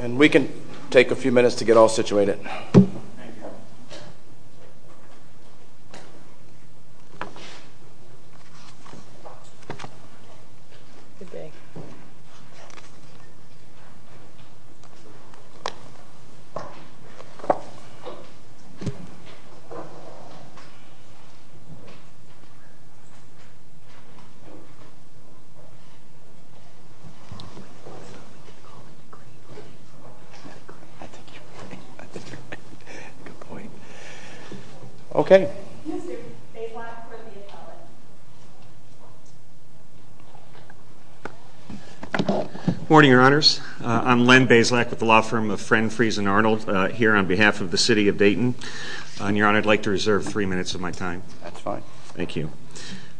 And we can take a few minutes to get all situated. I'm Len Bazelak with the law firm of Friend, Freese & Arnold here on behalf of the City of Dayton. Your Honor, I'd like to reserve three minutes of my time. That's fine. Thank you.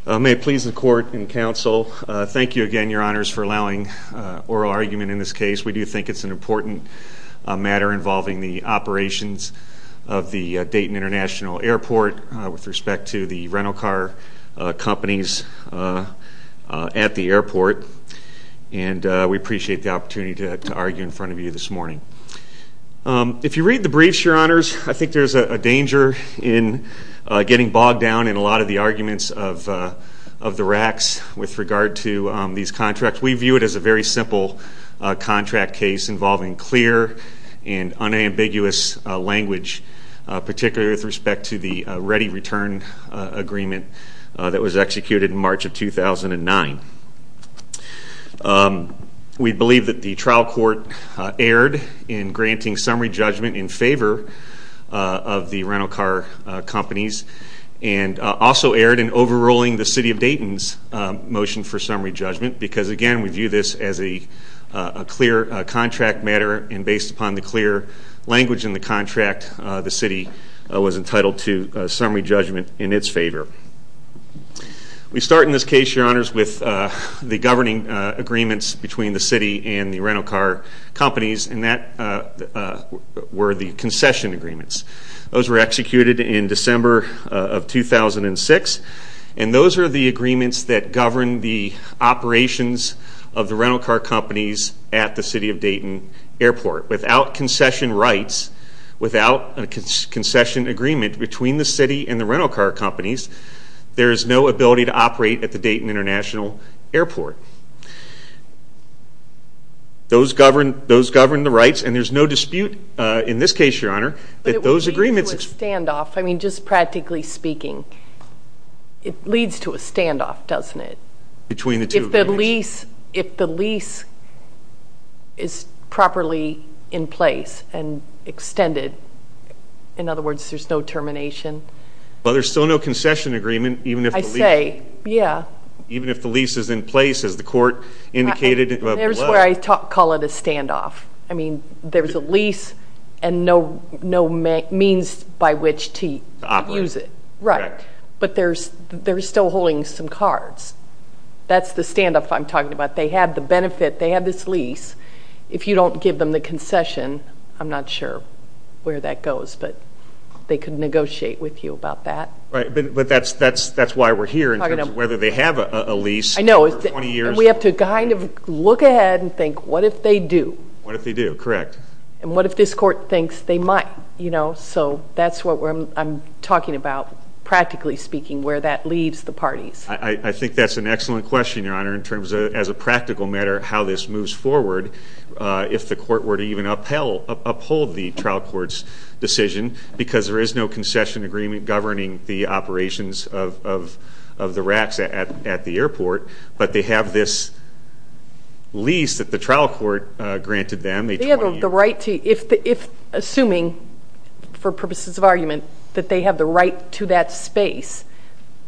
May it please the Court and Counsel, thank you again, Your Honors, for allowing oral argument in this case. We do think it's an important matter involving the operations of the Dayton International Airport with respect to the rental car companies at the airport. And we appreciate the opportunity to argue in front of you this morning. If you read the briefs, Your Honors, I think there's a danger in getting bogged down in a lot of the arguments of the racks with regard to these contracts. We view it as a very simple contract case involving clear and unambiguous language, particularly with respect to the ready return agreement that was executed in March of 2009. We believe that the trial court erred in granting summary judgment in favor of the rental car companies and also erred in overruling the City of Dayton's motion for summary judgment because, again, we view this as a clear contract matter and based upon the clear language in the contract, the City was entitled to summary judgment in its favor. We start in this case, Your Honors, with the governing agreements between the City and the rental car companies and that were the concession agreements. Those were executed in December of 2006 and those are the agreements that govern the operations of the rental car companies at the City of Dayton airport. Without concession rights, without a concession agreement between the City and the rental car companies, there is no ability to operate at the Dayton International Airport. Those govern the rights and there's no dispute in this case, Your Honor, that those agreements... It leads to a standoff, doesn't it? Between the two agreements. If the lease is properly in place and extended, in other words, there's no termination. Well, there's still no concession agreement even if the lease... I say, yeah. Even if the lease is in place as the court indicated... There's where I call it a standoff. I mean, there's a lease and no means by which to use it. To operate. Right. But they're still holding some cards. That's the standoff I'm talking about. They have the benefit. They have this lease. If you don't give them the concession, I'm not sure where that goes, but they can negotiate with you about that. Right. But that's why we're here in terms of whether they have a lease for 20 years. I know. And we have to kind of look ahead and think, what if they do? What if they do? Correct. And what if this court thinks they might? So that's what I'm talking about, practically speaking, where that leaves the parties. I think that's an excellent question, Your Honor, in terms of, as a practical matter, how this moves forward. If the court were to even uphold the trial court's decision, because there is no concession agreement governing the operations of the racks at the airport, but they have this lease that the trial court granted them. Assuming, for purposes of argument, that they have the right to that space,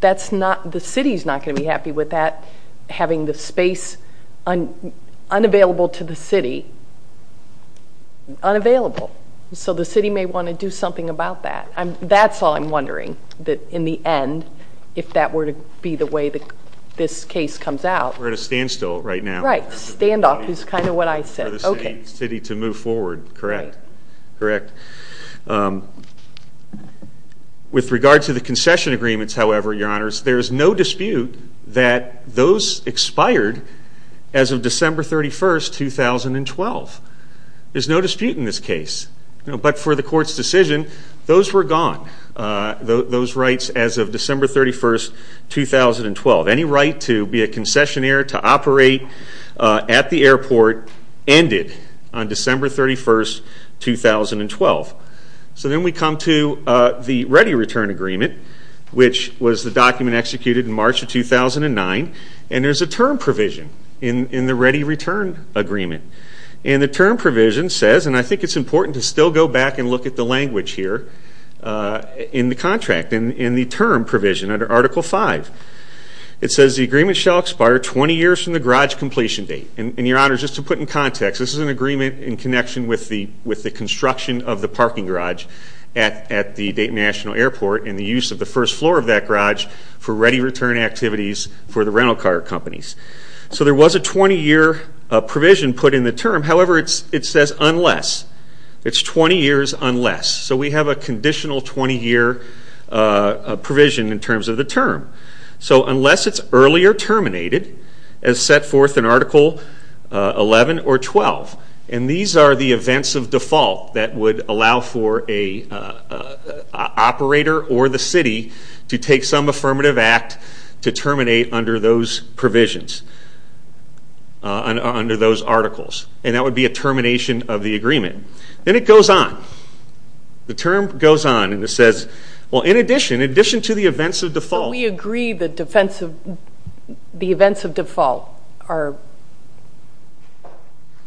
the city is not going to be happy with that, having the space unavailable to the city, unavailable. So the city may want to do something about that. That's all I'm wondering, in the end, if that were to be the way this case comes out. We're at a standstill right now. Right. Standoff is kind of what I said. Okay. For the city to move forward. Correct. Right. Correct. With regard to the concession agreements, however, Your Honors, there is no dispute that those expired as of December 31, 2012. There's no dispute in this case. But for the court's decision, those were gone, those rights as of December 31, 2012. Any right to be a concessionaire, to operate at the airport, ended on December 31, 2012. So then we come to the Ready Return Agreement, which was the document executed in March of 2009, and there's a term provision in the Ready Return Agreement. And the term provision says, and I think it's important to still go back and look at the language here in the contract, in the term provision under Article V. It says, The agreement shall expire 20 years from the garage completion date. And, Your Honors, just to put in context, this is an agreement in connection with the construction of the parking garage at the Dayton National Airport and the use of the first floor of that garage for ready return activities for the rental car companies. So there was a 20-year provision put in the term. However, it says unless. It's 20 years unless. So we have a conditional 20-year provision in terms of the term. So unless it's earlier terminated, as set forth in Article XI or XII, and these are the events of default that would allow for an operator or the city to take some affirmative act to terminate under those provisions, under those articles. And that would be a termination of the agreement. Then it goes on. The term goes on. And it says, well, in addition, in addition to the events of default. But we agree the events of default are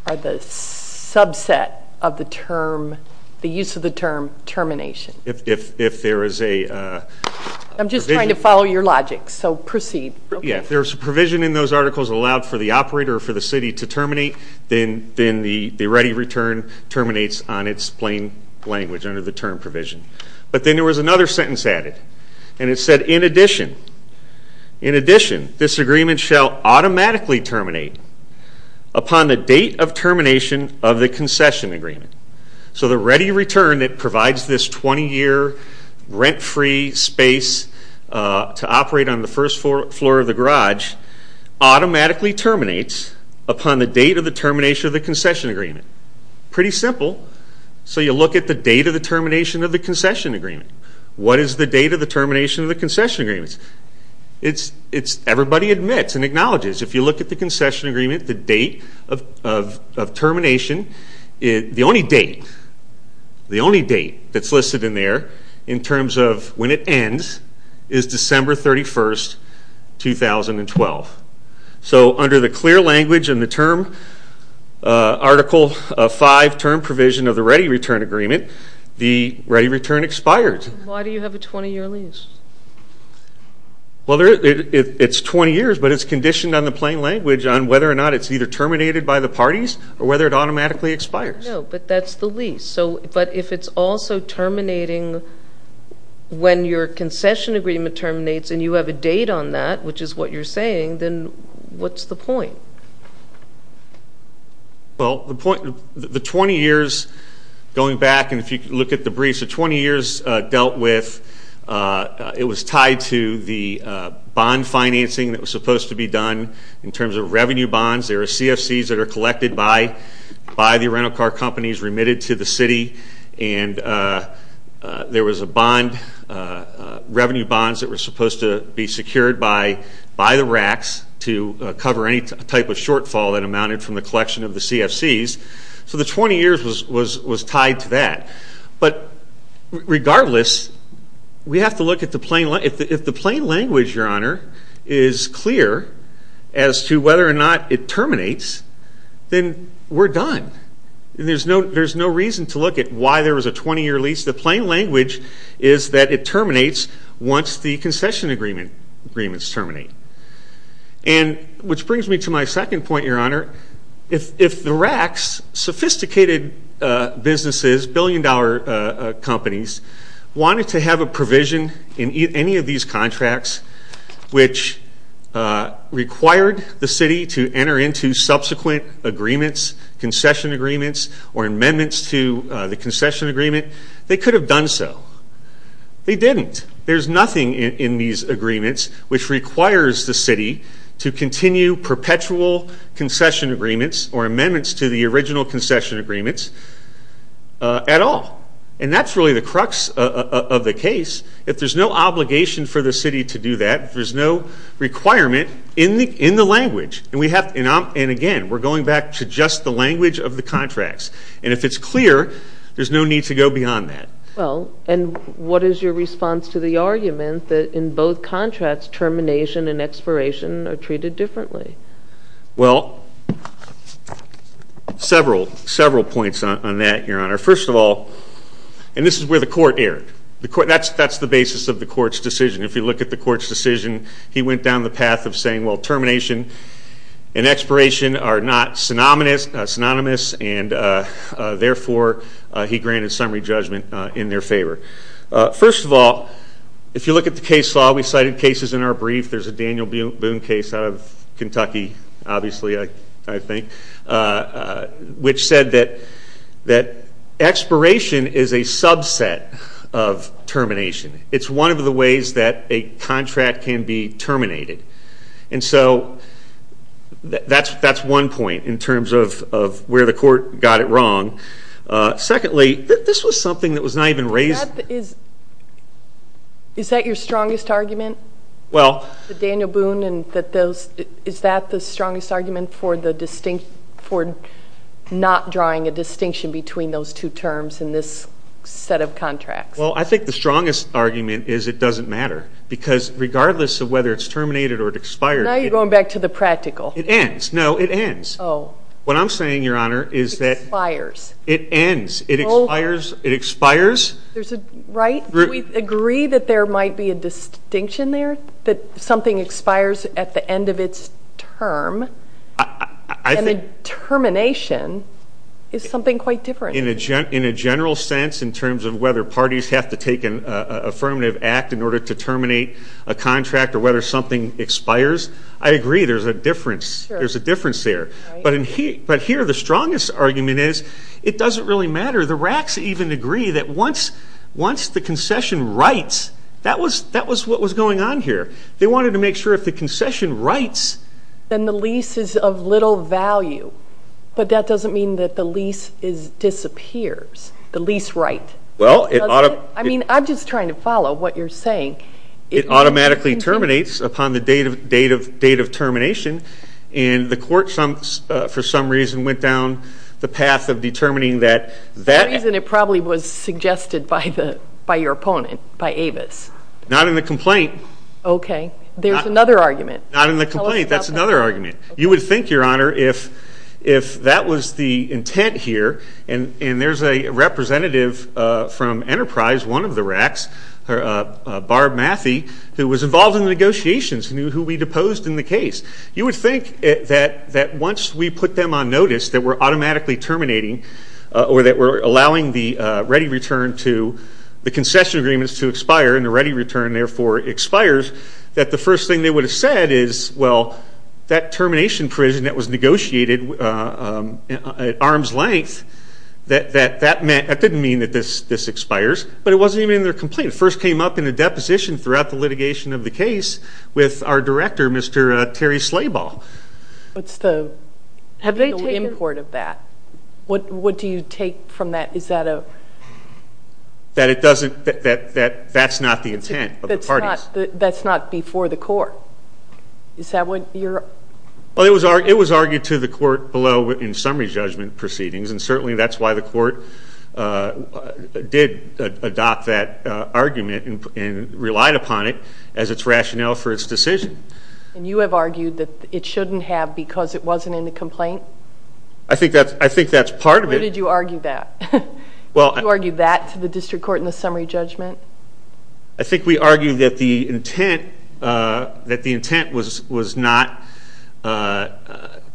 the subset of the term, the use of the term, termination. If there is a provision. I'm just trying to follow your logic. So proceed. Yeah, if there's a provision in those articles allowed for the operator or for the city to terminate, then the ready return terminates on its plain language under the term provision. But then there was another sentence added. And it said, in addition, in addition, this agreement shall automatically terminate upon the date of termination of the concession agreement. So the ready return that provides this 20-year rent-free space to operate on the first floor of the garage automatically terminates upon the date of the termination of the concession agreement. Pretty simple. So you look at the date of the termination of the concession agreement. What is the date of the termination of the concession agreement? It's everybody admits and acknowledges. If you look at the concession agreement, the date of termination, the only date, the only date that's listed in there in terms of when it ends is December 31, 2012. So under the clear language and the term Article 5 term provision of the ready return agreement, the ready return expired. Why do you have a 20-year lease? Well, it's 20 years, but it's conditioned on the plain language on whether or not it's either terminated by the parties or whether it automatically expires. No, but that's the lease. But if it's also terminating when your concession agreement terminates and you have a date on that, which is what you're saying, then what's the point? Well, the 20 years going back, and if you look at the briefs, the 20 years dealt with, it was tied to the bond financing that was supposed to be done. In terms of revenue bonds, there are CFCs that are collected by the rental car companies remitted to the city, and there was a bond, revenue bonds that were supposed to be secured by the RACs to cover any type of shortfall that amounted from the collection of the CFCs. So the 20 years was tied to that. But regardless, we have to look at the plain language. If the plain language, Your Honor, is clear as to whether or not it terminates, then we're done. There's no reason to look at why there was a 20-year lease. The plain language is that it terminates once the concession agreements terminate. Which brings me to my second point, Your Honor. If the RACs, sophisticated businesses, billion-dollar companies, wanted to have a provision in any of these contracts which required the city to enter into subsequent agreements, concession agreements, or amendments to the concession agreement, they could have done so. They didn't. There's nothing in these agreements which requires the city to continue perpetual concession agreements or amendments to the original concession agreements at all. And that's really the crux of the case. If there's no obligation for the city to do that, if there's no requirement in the language, and again, we're going back to just the language of the contracts. And if it's clear, there's no need to go beyond that. Well, and what is your response to the argument that in both contracts, termination and expiration are treated differently? Well, several points on that, Your Honor. First of all, and this is where the court erred. That's the basis of the court's decision. If you look at the court's decision, he went down the path of saying, well, termination and expiration are not synonymous, and therefore he granted summary judgment in their favor. First of all, if you look at the case law, we cited cases in our brief. There's a Daniel Boone case out of Kentucky, obviously, I think, which said that expiration is a subset of termination. It's one of the ways that a contract can be terminated. And so that's one point in terms of where the court got it wrong. Secondly, this was something that was not even raised. Is that your strongest argument, the Daniel Boone, and is that the strongest argument for not drawing a distinction between those two terms in this set of contracts? Well, I think the strongest argument is it doesn't matter, because regardless of whether it's terminated or it expires. Now you're going back to the practical. It ends. No, it ends. Oh. What I'm saying, Your Honor, is that it ends. It expires. Do we agree that there might be a distinction there, that something expires at the end of its term and the termination is something quite different? In a general sense in terms of whether parties have to take an affirmative act in order to terminate a contract or whether something expires, I agree there's a difference there. But here the strongest argument is it doesn't really matter. The racks even agree that once the concession writes, that was what was going on here. They wanted to make sure if the concession writes. Then the lease is of little value, but that doesn't mean that the lease disappears, the lease write. Well, it ought to. I mean, I'm just trying to follow what you're saying. It automatically terminates upon the date of termination, and the court for some reason went down the path of determining that. For some reason it probably was suggested by your opponent, by Avis. Not in the complaint. Okay. There's another argument. Not in the complaint. That's another argument. You would think, Your Honor, if that was the intent here, and there's a representative from Enterprise, one of the racks, Barb Mathey, who was involved in the negotiations, who we deposed in the case. You would think that once we put them on notice that we're automatically terminating or that we're allowing the ready return to the concession agreements to expire and the ready return, therefore, expires, that the first thing they would have said is, well, that termination provision that was negotiated at arm's length, that didn't mean that this expires. But it wasn't even in their complaint. It first came up in the deposition throughout the litigation of the case with our director, Mr. Terry Slaball. What's the import of that? What do you take from that? Is that a? That it doesn't, that's not the intent of the parties. That's not before the court. Is that what you're? Well, it was argued to the court below in summary judgment proceedings, and certainly that's why the court did adopt that argument and relied upon it as its rationale for its decision. And you have argued that it shouldn't have because it wasn't in the complaint? I think that's part of it. Where did you argue that? You argued that to the district court in the summary judgment? I think we argued that the intent was not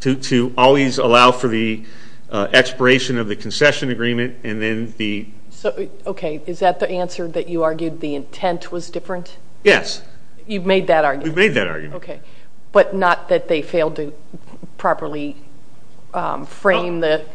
to always allow for the expiration of the concession agreement and then the... Okay. Is that the answer, that you argued the intent was different? Yes. You've made that argument? We've made that argument. Okay. But not that they failed to properly frame the...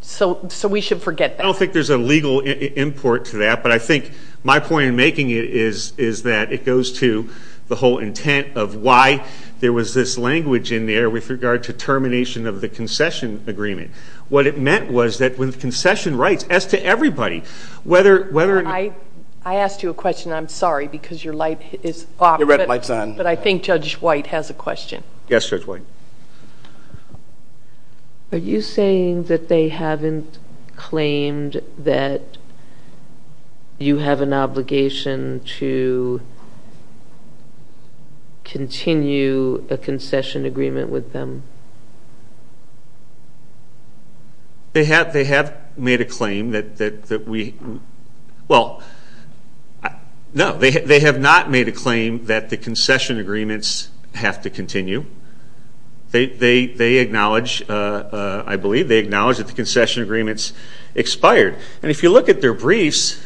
So we should forget that. I don't think there's a legal import to that, but I think my point in making it is that it goes to the whole intent of why there was this language in there with regard to termination of the concession agreement. What it meant was that with concession rights, as to everybody, whether... I asked you a question, and I'm sorry because your light is off. Your red light's on. But I think Judge White has a question. Yes, Judge White. Are you saying that they haven't claimed that you have an obligation to continue a concession agreement with them? They have made a claim that we... have to continue. They acknowledge, I believe, they acknowledge that the concession agreements expired. And if you look at their briefs,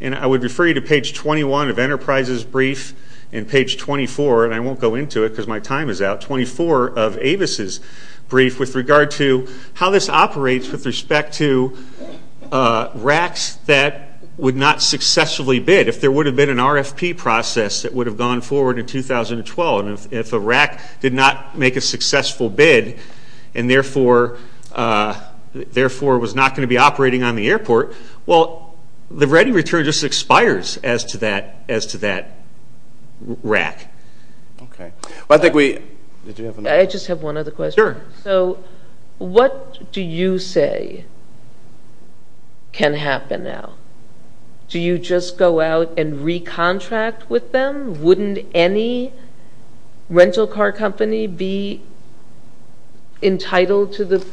and I would refer you to page 21 of Enterprise's brief and page 24, and I won't go into it because my time is out, 24 of Avis' brief, with regard to how this operates with respect to RACs that would not successfully bid. If there would have been an RFP process that would have gone forward in 2012, and if a RAC did not make a successful bid and therefore was not going to be operating on the airport, well, the ready return just expires as to that RAC. I think we... I just have one other question. Sure. So what do you say can happen now? Do you just go out and recontract with them? Wouldn't any rental car company be entitled to the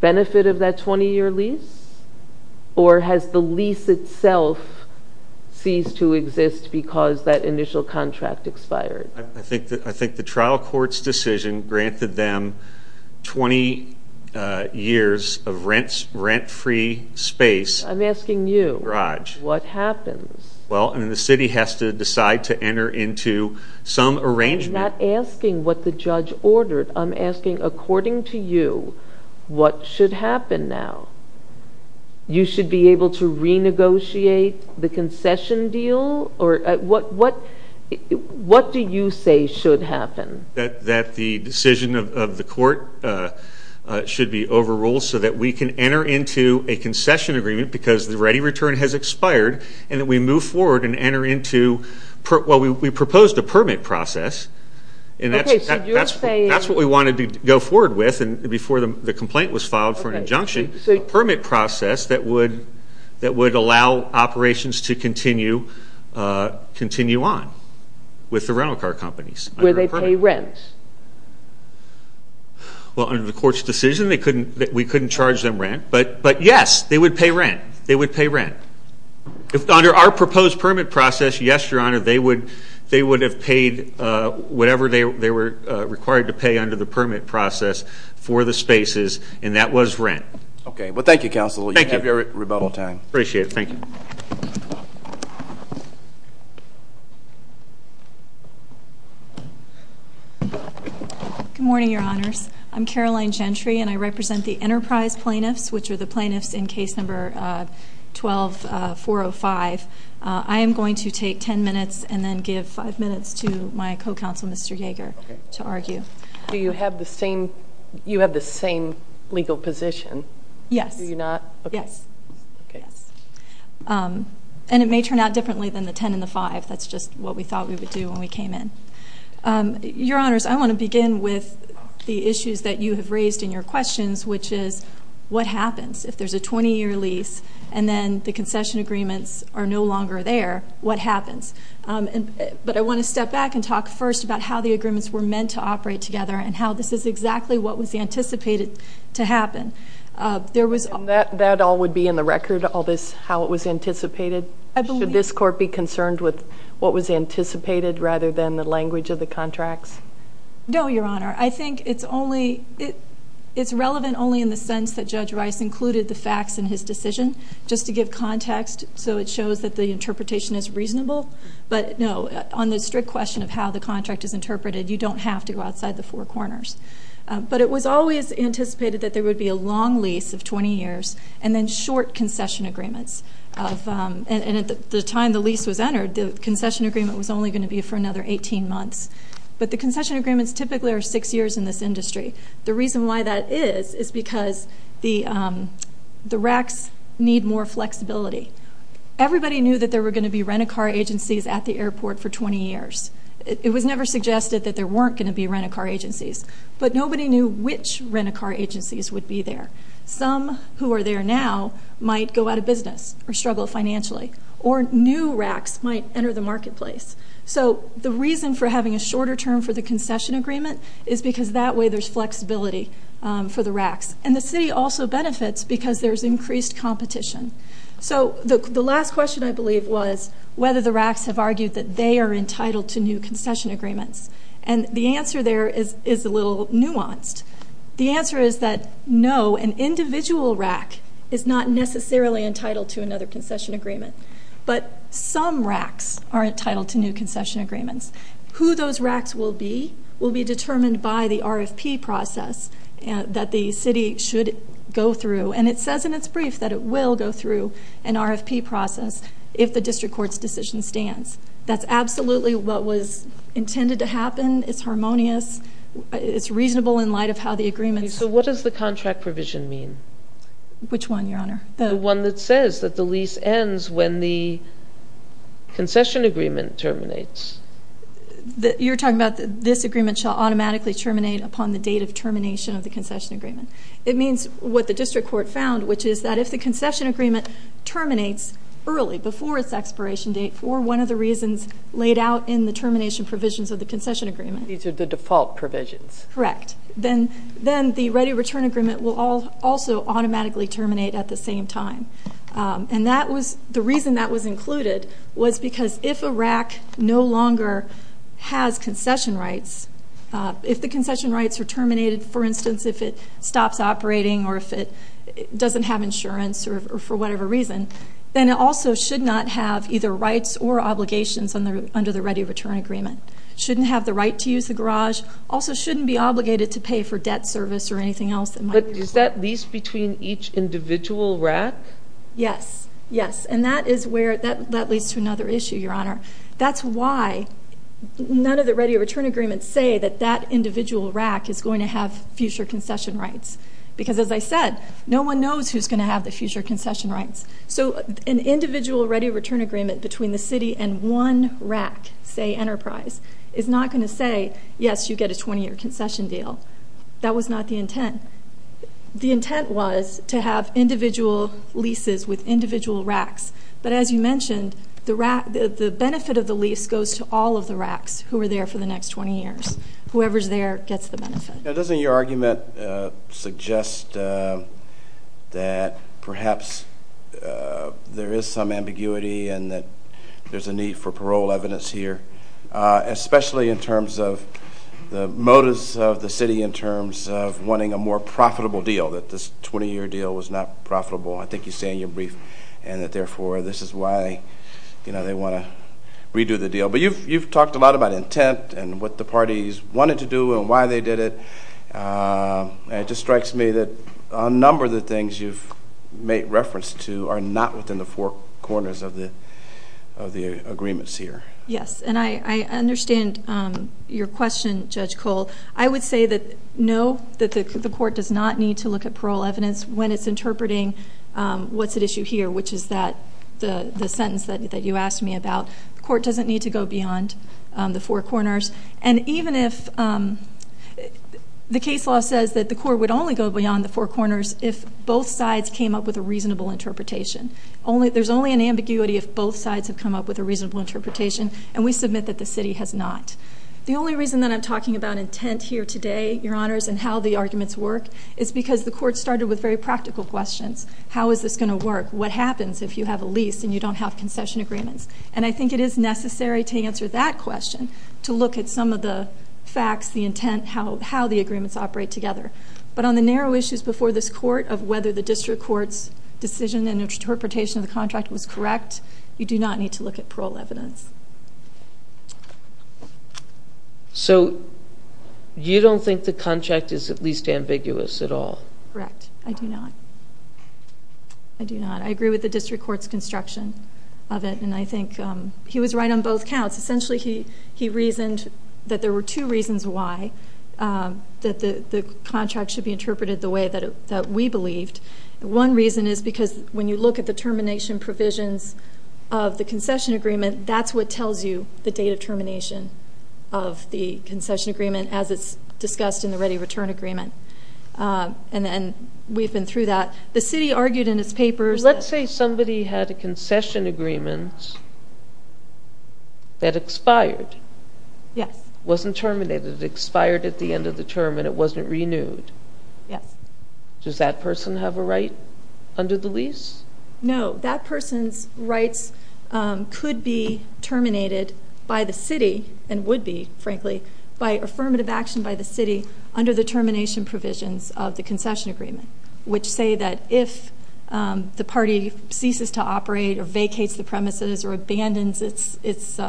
benefit of that 20-year lease? Or has the lease itself ceased to exist because that initial contract expired? I think the trial court's decision granted them 20 years of rent-free space. I'm asking you. Raj. What happens? Well, the city has to decide to enter into some arrangement. I'm not asking what the judge ordered. I'm asking, according to you, what should happen now? You should be able to renegotiate the concession deal? What do you say should happen? That the decision of the court should be overruled so that we can enter into a concession agreement because the ready return has expired and that we move forward and enter into... Well, we proposed a permit process, and that's what we wanted to go forward with before the complaint was filed for an injunction, a permit process that would allow operations to continue on with the rental car companies. Where they pay rent? Well, under the court's decision, we couldn't charge them rent. But, yes, they would pay rent. They would pay rent. Under our proposed permit process, yes, Your Honor, they would have paid whatever they were required to pay under the permit process for the spaces, and that was rent. Okay. Well, thank you, Counsel. You have your rebuttal time. Appreciate it. Thank you. Good morning, Your Honors. I'm Caroline Gentry, and I represent the Enterprise plaintiffs, which are the plaintiffs in case number 12-405. I am going to take 10 minutes and then give 5 minutes to my co-counsel, Mr. Yeager, to argue. Do you have the same legal position? Yes. Do you not? Yes. And it may turn out differently than the 10 and the 5. That's just what we thought we would do when we came in. Your Honors, I want to begin with the issues that you have raised in your questions, which is what happens if there's a 20-year lease and then the concession agreements are no longer there, what happens? But I want to step back and talk first about how the agreements were meant to operate together and how this is exactly what was anticipated to happen. And that all would be in the record, all this, how it was anticipated? I believe so. Were you concerned with what was anticipated rather than the language of the contracts? No, Your Honor. I think it's relevant only in the sense that Judge Rice included the facts in his decision, just to give context so it shows that the interpretation is reasonable. But no, on the strict question of how the contract is interpreted, you don't have to go outside the four corners. But it was always anticipated that there would be a long lease of 20 years and then short concession agreements. And at the time the lease was entered, the concession agreement was only going to be for another 18 months. But the concession agreements typically are six years in this industry. The reason why that is is because the RACs need more flexibility. Everybody knew that there were going to be rent-a-car agencies at the airport for 20 years. It was never suggested that there weren't going to be rent-a-car agencies. But nobody knew which rent-a-car agencies would be there. Some who are there now might go out of business or struggle financially. Or new RACs might enter the marketplace. So the reason for having a shorter term for the concession agreement is because that way there's flexibility for the RACs. And the city also benefits because there's increased competition. So the last question, I believe, was whether the RACs have argued that they are entitled to new concession agreements. And the answer there is a little nuanced. The answer is that no, an individual RAC is not necessarily entitled to another concession agreement. But some RACs are entitled to new concession agreements. Who those RACs will be will be determined by the RFP process that the city should go through. And it says in its brief that it will go through an RFP process if the district court's decision stands. That's absolutely what was intended to happen. It's harmonious. It's reasonable in light of how the agreements. So what does the contract provision mean? Which one, Your Honor? The one that says that the lease ends when the concession agreement terminates. You're talking about this agreement shall automatically terminate upon the date of termination of the concession agreement. It means what the district court found, which is that if the concession agreement terminates early, before its expiration date, for one of the reasons laid out in the termination provisions of the concession agreement. These are the default provisions. Correct. Then the ready return agreement will also automatically terminate at the same time. And the reason that was included was because if a RAC no longer has concession rights, if the concession rights are terminated, for instance, if it stops operating or if it doesn't have insurance or for whatever reason, then it also should not have either rights or obligations under the ready return agreement. It shouldn't have the right to use the garage. It also shouldn't be obligated to pay for debt service or anything else. But is that lease between each individual RAC? Yes, yes. And that is where that leads to another issue, Your Honor. That's why none of the ready return agreements say that that individual RAC is going to have future concession rights. Because as I said, no one knows who's going to have the future concession rights. So an individual ready return agreement between the city and one RAC, say Enterprise, is not going to say, yes, you get a 20-year concession deal. That was not the intent. The intent was to have individual leases with individual RACs. But as you mentioned, the benefit of the lease goes to all of the RACs who are there for the next 20 years. Whoever's there gets the benefit. Now, doesn't your argument suggest that perhaps there is some ambiguity and that there's a need for parole evidence here, especially in terms of the motives of the city in terms of wanting a more profitable deal, that this 20-year deal was not profitable. I think you say in your brief and that, therefore, this is why, you know, they want to redo the deal. But you've talked a lot about intent and what the parties wanted to do and why they did it. It just strikes me that a number of the things you've made reference to are not within the four corners of the agreements here. Yes, and I understand your question, Judge Cole. I would say that no, the court does not need to look at parole evidence when it's interpreting what's at issue here, which is the sentence that you asked me about. The court doesn't need to go beyond the four corners. And even if the case law says that the court would only go beyond the four corners if both sides came up with a reasonable interpretation. There's only an ambiguity if both sides have come up with a reasonable interpretation, and we submit that the city has not. The only reason that I'm talking about intent here today, Your Honors, and how the arguments work is because the court started with very practical questions. How is this going to work? What happens if you have a lease and you don't have concession agreements? And I think it is necessary to answer that question to look at some of the facts, the intent, how the agreements operate together. But on the narrow issues before this court of whether the district court's decision and interpretation of the contract was correct, you do not need to look at parole evidence. So you don't think the contract is at least ambiguous at all? Correct, I do not. I do not. I agree with the district court's construction of it, and I think he was right on both counts. Essentially he reasoned that there were two reasons why the contract should be interpreted the way that we believed. One reason is because when you look at the termination provisions of the concession agreement, that's what tells you the date of termination of the concession agreement as it's discussed in the ready return agreement. And we've been through that. The city argued in its papers that- Let's say somebody had a concession agreement that expired. Yes. It wasn't terminated. It expired at the end of the term and it wasn't renewed. Yes. Does that person have a right under the lease? No. That person's rights could be terminated by the city and would be, frankly, by affirmative action by the city under the termination provisions of the concession agreement, which say that if the party ceases to operate or vacates the premises or abandons its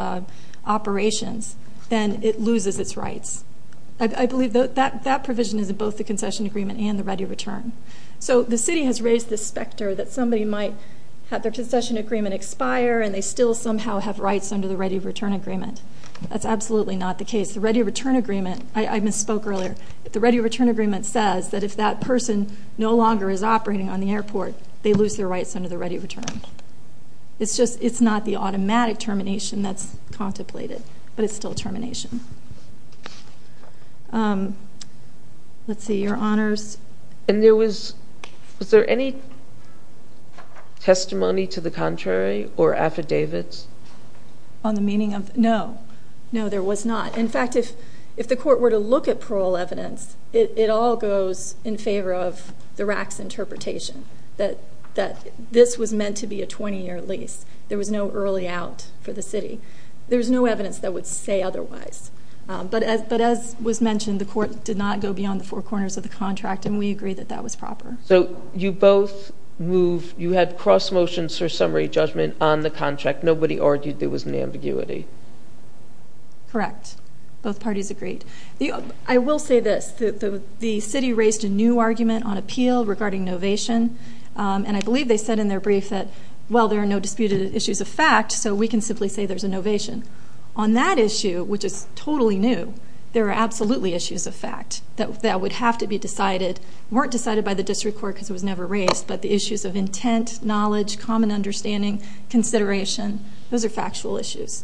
operations, then it loses its rights. I believe that provision is in both the concession agreement and the ready return. So the city has raised the specter that somebody might have their concession agreement expire and they still somehow have rights under the ready return agreement. That's absolutely not the case. The ready return agreement-I misspoke earlier. The ready return agreement says that if that person no longer is operating on the airport, they lose their rights under the ready return. It's just it's not the automatic termination that's contemplated, but it's still termination. Let's see. Your Honors. And there was-was there any testimony to the contrary or affidavits? On the meaning of-no. No, there was not. In fact, if the court were to look at parole evidence, it all goes in favor of the RAC's interpretation that this was meant to be a 20-year lease. There was no early out for the city. There was no evidence that would say otherwise. But as was mentioned, the court did not go beyond the four corners of the contract, and we agree that that was proper. So you both moved-you had cross motions for summary judgment on the contract. Nobody argued there was an ambiguity. Correct. Both parties agreed. I will say this. The city raised a new argument on appeal regarding novation, and I believe they said in their brief that, well, there are no disputed issues of fact, so we can simply say there's a novation. On that issue, which is totally new, there are absolutely issues of fact that would have to be decided, weren't decided by the district court because it was never raised, but the issues of intent, knowledge, common understanding, consideration, those are factual issues.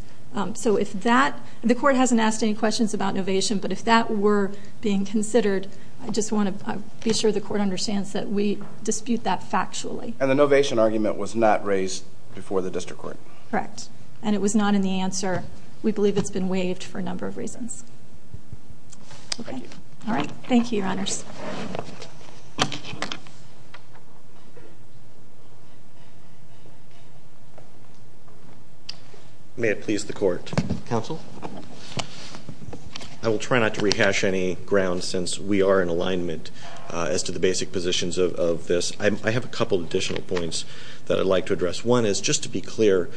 So if that-the court hasn't asked any questions about novation, but if that were being considered, I just want to be sure the court understands that we dispute that factually. And the novation argument was not raised before the district court. Correct. And it was not in the answer. We believe it's been waived for a number of reasons. Okay. All right. Thank you, Your Honors. May it please the court. Counsel. I will try not to rehash any grounds since we are in alignment as to the basic positions of this. I have a couple of additional points that I'd like to address. One is, just to be clear,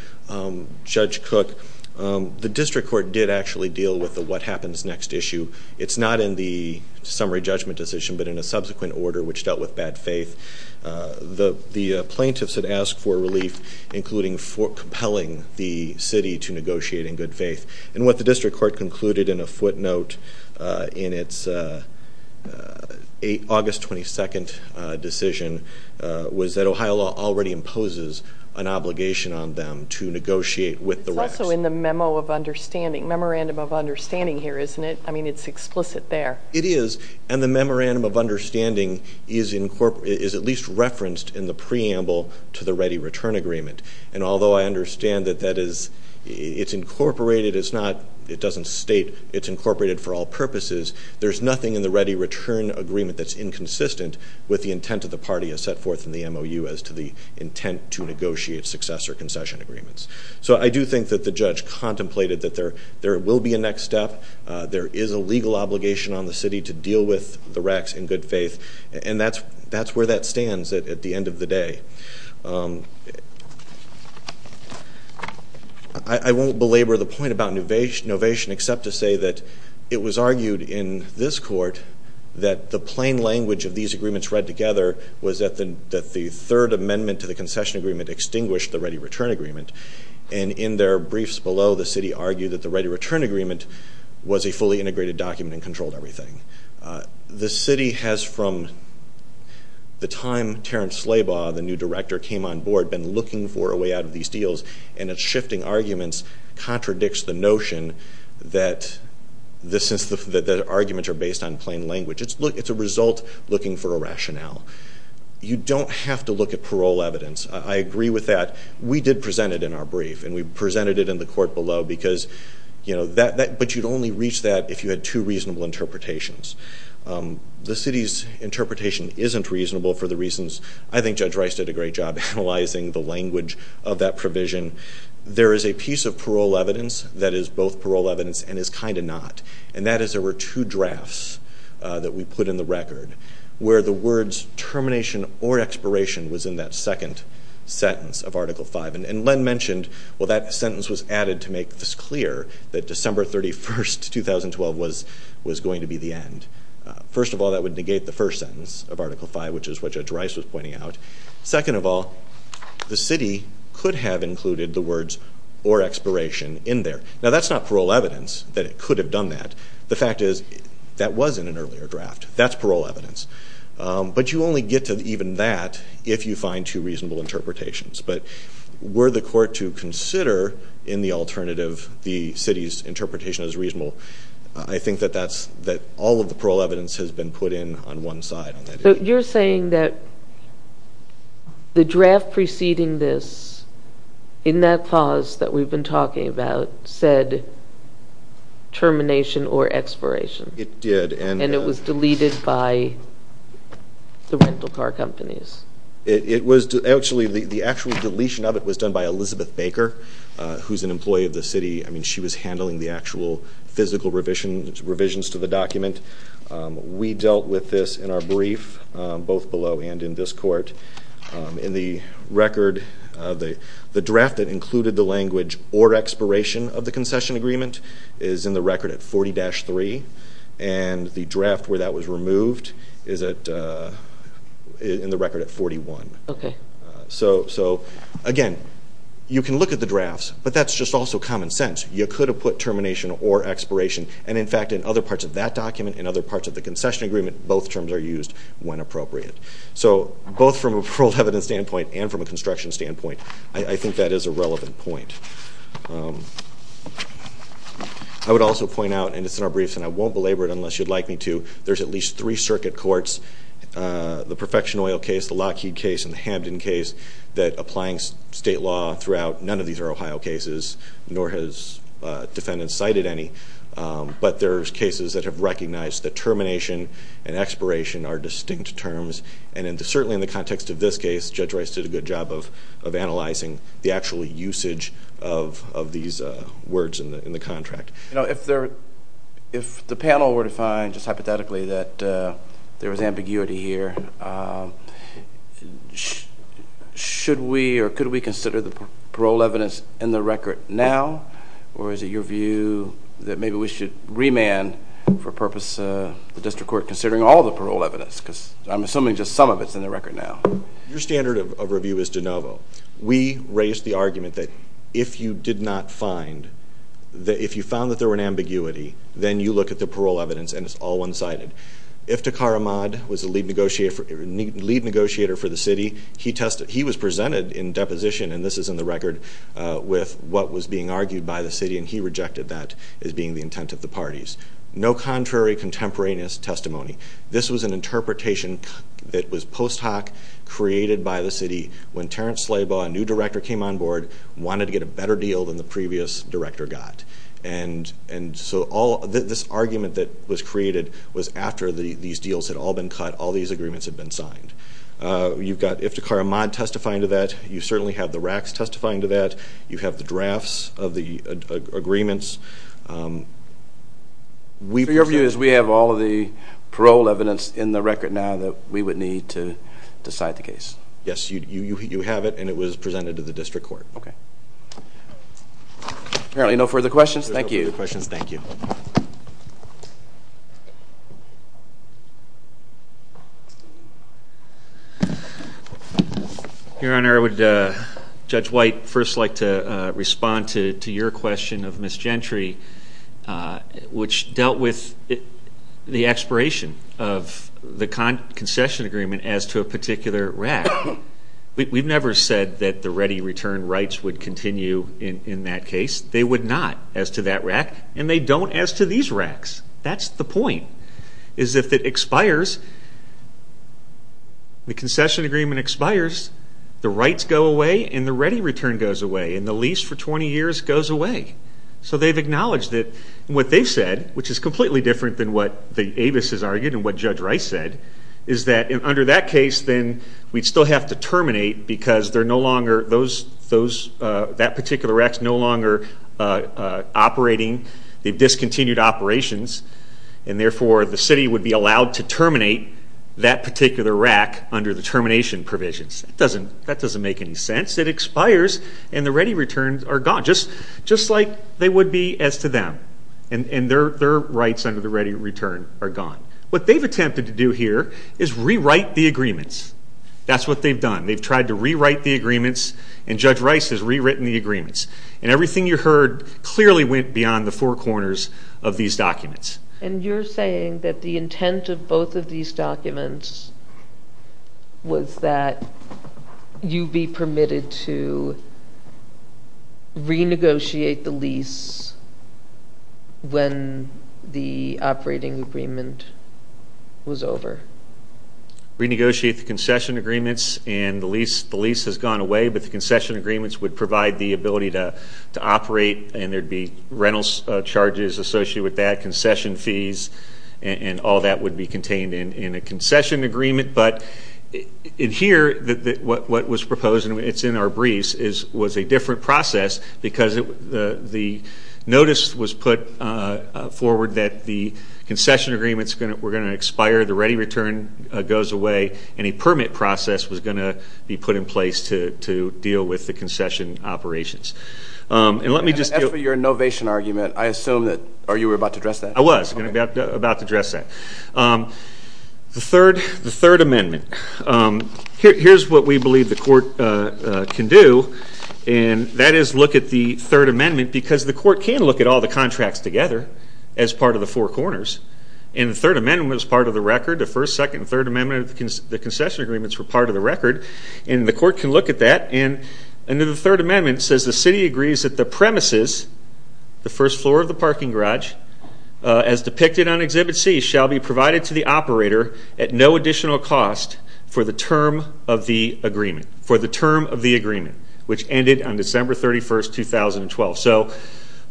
Judge Cook, the district court did actually deal with the what happens next issue. It's not in the summary judgment decision, but in a subsequent order which dealt with bad faith. The plaintiffs had asked for relief, including compelling the city to negotiate in good faith. And what the district court concluded in a footnote in its August 22nd decision was that Ohio law already imposes an obligation on them to negotiate with the rest. It's also in the memo of understanding, memorandum of understanding here, isn't it? I mean, it's explicit there. It is. And the memorandum of understanding is at least referenced in the preamble to the ready return agreement. And although I understand that it's incorporated, it doesn't state it's incorporated for all purposes, there's nothing in the ready return agreement that's inconsistent with the intent of the party as set forth in the MOU as to the intent to negotiate successor concession agreements. So I do think that the judge contemplated that there will be a next step. There is a legal obligation on the city to deal with the recs in good faith. And that's where that stands at the end of the day. I won't belabor the point about novation except to say that it was argued in this court that the plain language of these agreements read together was that the third amendment to the concession agreement extinguished the ready return agreement. And in their briefs below, the city argued that the ready return agreement was a fully integrated document and controlled everything. The city has, from the time Terence Slabaugh, the new director, came on board, been looking for a way out of these deals, and it's shifting arguments, contradicts the notion that the arguments are based on plain language. It's a result looking for a rationale. You don't have to look at parole evidence. I agree with that. We did present it in our brief, and we presented it in the court below, but you'd only reach that if you had two reasonable interpretations. The city's interpretation isn't reasonable for the reasons I think Judge Rice did a great job analyzing the language of that provision. There is a piece of parole evidence that is both parole evidence and is kind of not, and that is there were two drafts that we put in the record where the words termination or expiration was in that second sentence of Article V. And Len mentioned, well, that sentence was added to make this clear, that December 31, 2012 was going to be the end. First of all, that would negate the first sentence of Article V, which is what Judge Rice was pointing out. Second of all, the city could have included the words or expiration in there. Now, that's not parole evidence that it could have done that. The fact is that was in an earlier draft. That's parole evidence. But you only get to even that if you find two reasonable interpretations. But were the court to consider in the alternative the city's interpretation as reasonable, I think that all of the parole evidence has been put in on one side. So you're saying that the draft preceding this, in that clause that we've been talking about, said termination or expiration. It did. And it was deleted by the rental car companies. Actually, the actual deletion of it was done by Elizabeth Baker, who's an employee of the city. I mean, she was handling the actual physical revisions to the document. We dealt with this in our brief, both below and in this court. In the record, the draft that included the language or expiration of the concession agreement is in the record at 40-3, and the draft where that was removed is in the record at 41. So, again, you can look at the drafts, but that's just also common sense. You could have put termination or expiration. And, in fact, in other parts of that document and other parts of the concession agreement, both terms are used when appropriate. So both from a parole evidence standpoint and from a construction standpoint, I think that is a relevant point. I would also point out, and it's in our briefs and I won't belabor it unless you'd like me to, there's at least three circuit courts, the Perfection Oil case, the Lockheed case, and the Hamden case, that applying state law throughout, none of these are Ohio cases, nor has defendants cited any. But there's cases that have recognized that termination and expiration are distinct terms. And certainly in the context of this case, Judge Rice did a good job of analyzing the actual usage of these words in the contract. If the panel were to find, just hypothetically, that there was ambiguity here, should we or could we consider the parole evidence in the record now, or is it your view that maybe we should remand for purpose the district court considering all the parole evidence? Because I'm assuming just some of it's in the record now. Your standard of review is de novo. We raised the argument that if you did not find, if you found that there were an ambiguity, then you look at the parole evidence and it's all one-sided. If Takhar Ahmad was the lead negotiator for the city, he was presented in deposition, and this is in the record, with what was being argued by the city, and he rejected that as being the intent of the parties. No contrary contemporaneous testimony. This was an interpretation that was post hoc, created by the city, when Terrence Slabo, a new director, came on board, wanted to get a better deal than the previous director got. And so this argument that was created was after these deals had all been cut, all these agreements had been signed. You've got if Takhar Ahmad testifying to that. You certainly have the RACs testifying to that. You have the drafts of the agreements. So your view is we have all of the parole evidence in the record now that we would need to decide the case? Yes, you have it, and it was presented to the district court. Okay. Apparently no further questions. Thank you. No further questions. Thank you. Your Honor, I would, Judge White, first like to respond to your question of Ms. Gentry, which dealt with the expiration of the concession agreement as to a particular RAC. We've never said that the ready return rights would continue in that case. They would not as to that RAC, and they don't as to these RACs. That's the point. The point is if it expires, the concession agreement expires, the rights go away and the ready return goes away, and the lease for 20 years goes away. So they've acknowledged it. And what they've said, which is completely different than what the Avis has argued and what Judge Rice said, is that under that case then we'd still have to terminate because that particular RAC is no longer operating. They've discontinued operations, and therefore the city would be allowed to terminate that particular RAC under the termination provisions. That doesn't make any sense. It expires, and the ready returns are gone, just like they would be as to them. And their rights under the ready return are gone. What they've attempted to do here is rewrite the agreements. That's what they've done. They've tried to rewrite the agreements, and Judge Rice has rewritten the agreements. And everything you heard clearly went beyond the four corners of these documents. And you're saying that the intent of both of these documents was that you'd be permitted to renegotiate the lease when the operating agreement was over? Renegotiate the concession agreements, and the lease has gone away, but the concession agreements would provide the ability to operate, and there'd be rental charges associated with that, concession fees, and all that would be contained in a concession agreement. But in here, what was proposed, and it's in our briefs, was a different process because the notice was put forward that the concession agreements were going to expire, the ready return goes away, and a permit process was going to be put in place to deal with the concession operations. As for your innovation argument, I assume that you were about to address that. I was about to address that. The Third Amendment. Here's what we believe the Court can do, and that is look at the Third Amendment because the Court can look at all the contracts together as part of the four corners. And the Third Amendment was part of the record. The First, Second, and Third Amendments of the concession agreements were part of the record, and the Court can look at that, and under the Third Amendment, it says the city agrees that the premises, the first floor of the parking garage, as depicted on Exhibit C, shall be provided to the operator at no additional cost for the term of the agreement, which ended on December 31, 2012. So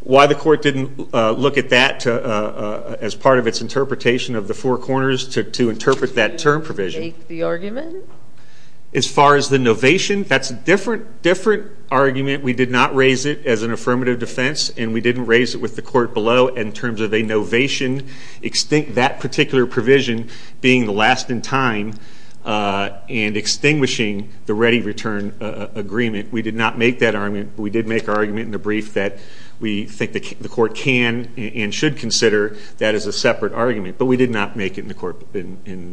why the Court didn't look at that as part of its interpretation of the four corners to interpret that term provision? Did you make the argument? As far as the innovation, that's a different argument. We did not raise it as an affirmative defense, and we didn't raise it with the Court below in terms of a novation, that particular provision being the last in time and extinguishing the ready return agreement. We did not make that argument, but we did make our argument in the brief that we think the Court can and should consider that as a separate argument, but we did not make it in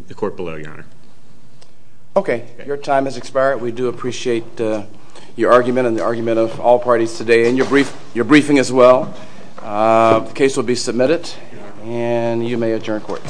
the Court below, Your Honor. Okay. Your time has expired. We do appreciate your argument and the argument of all parties today, and your briefing as well. The case will be submitted, and you may adjourn court.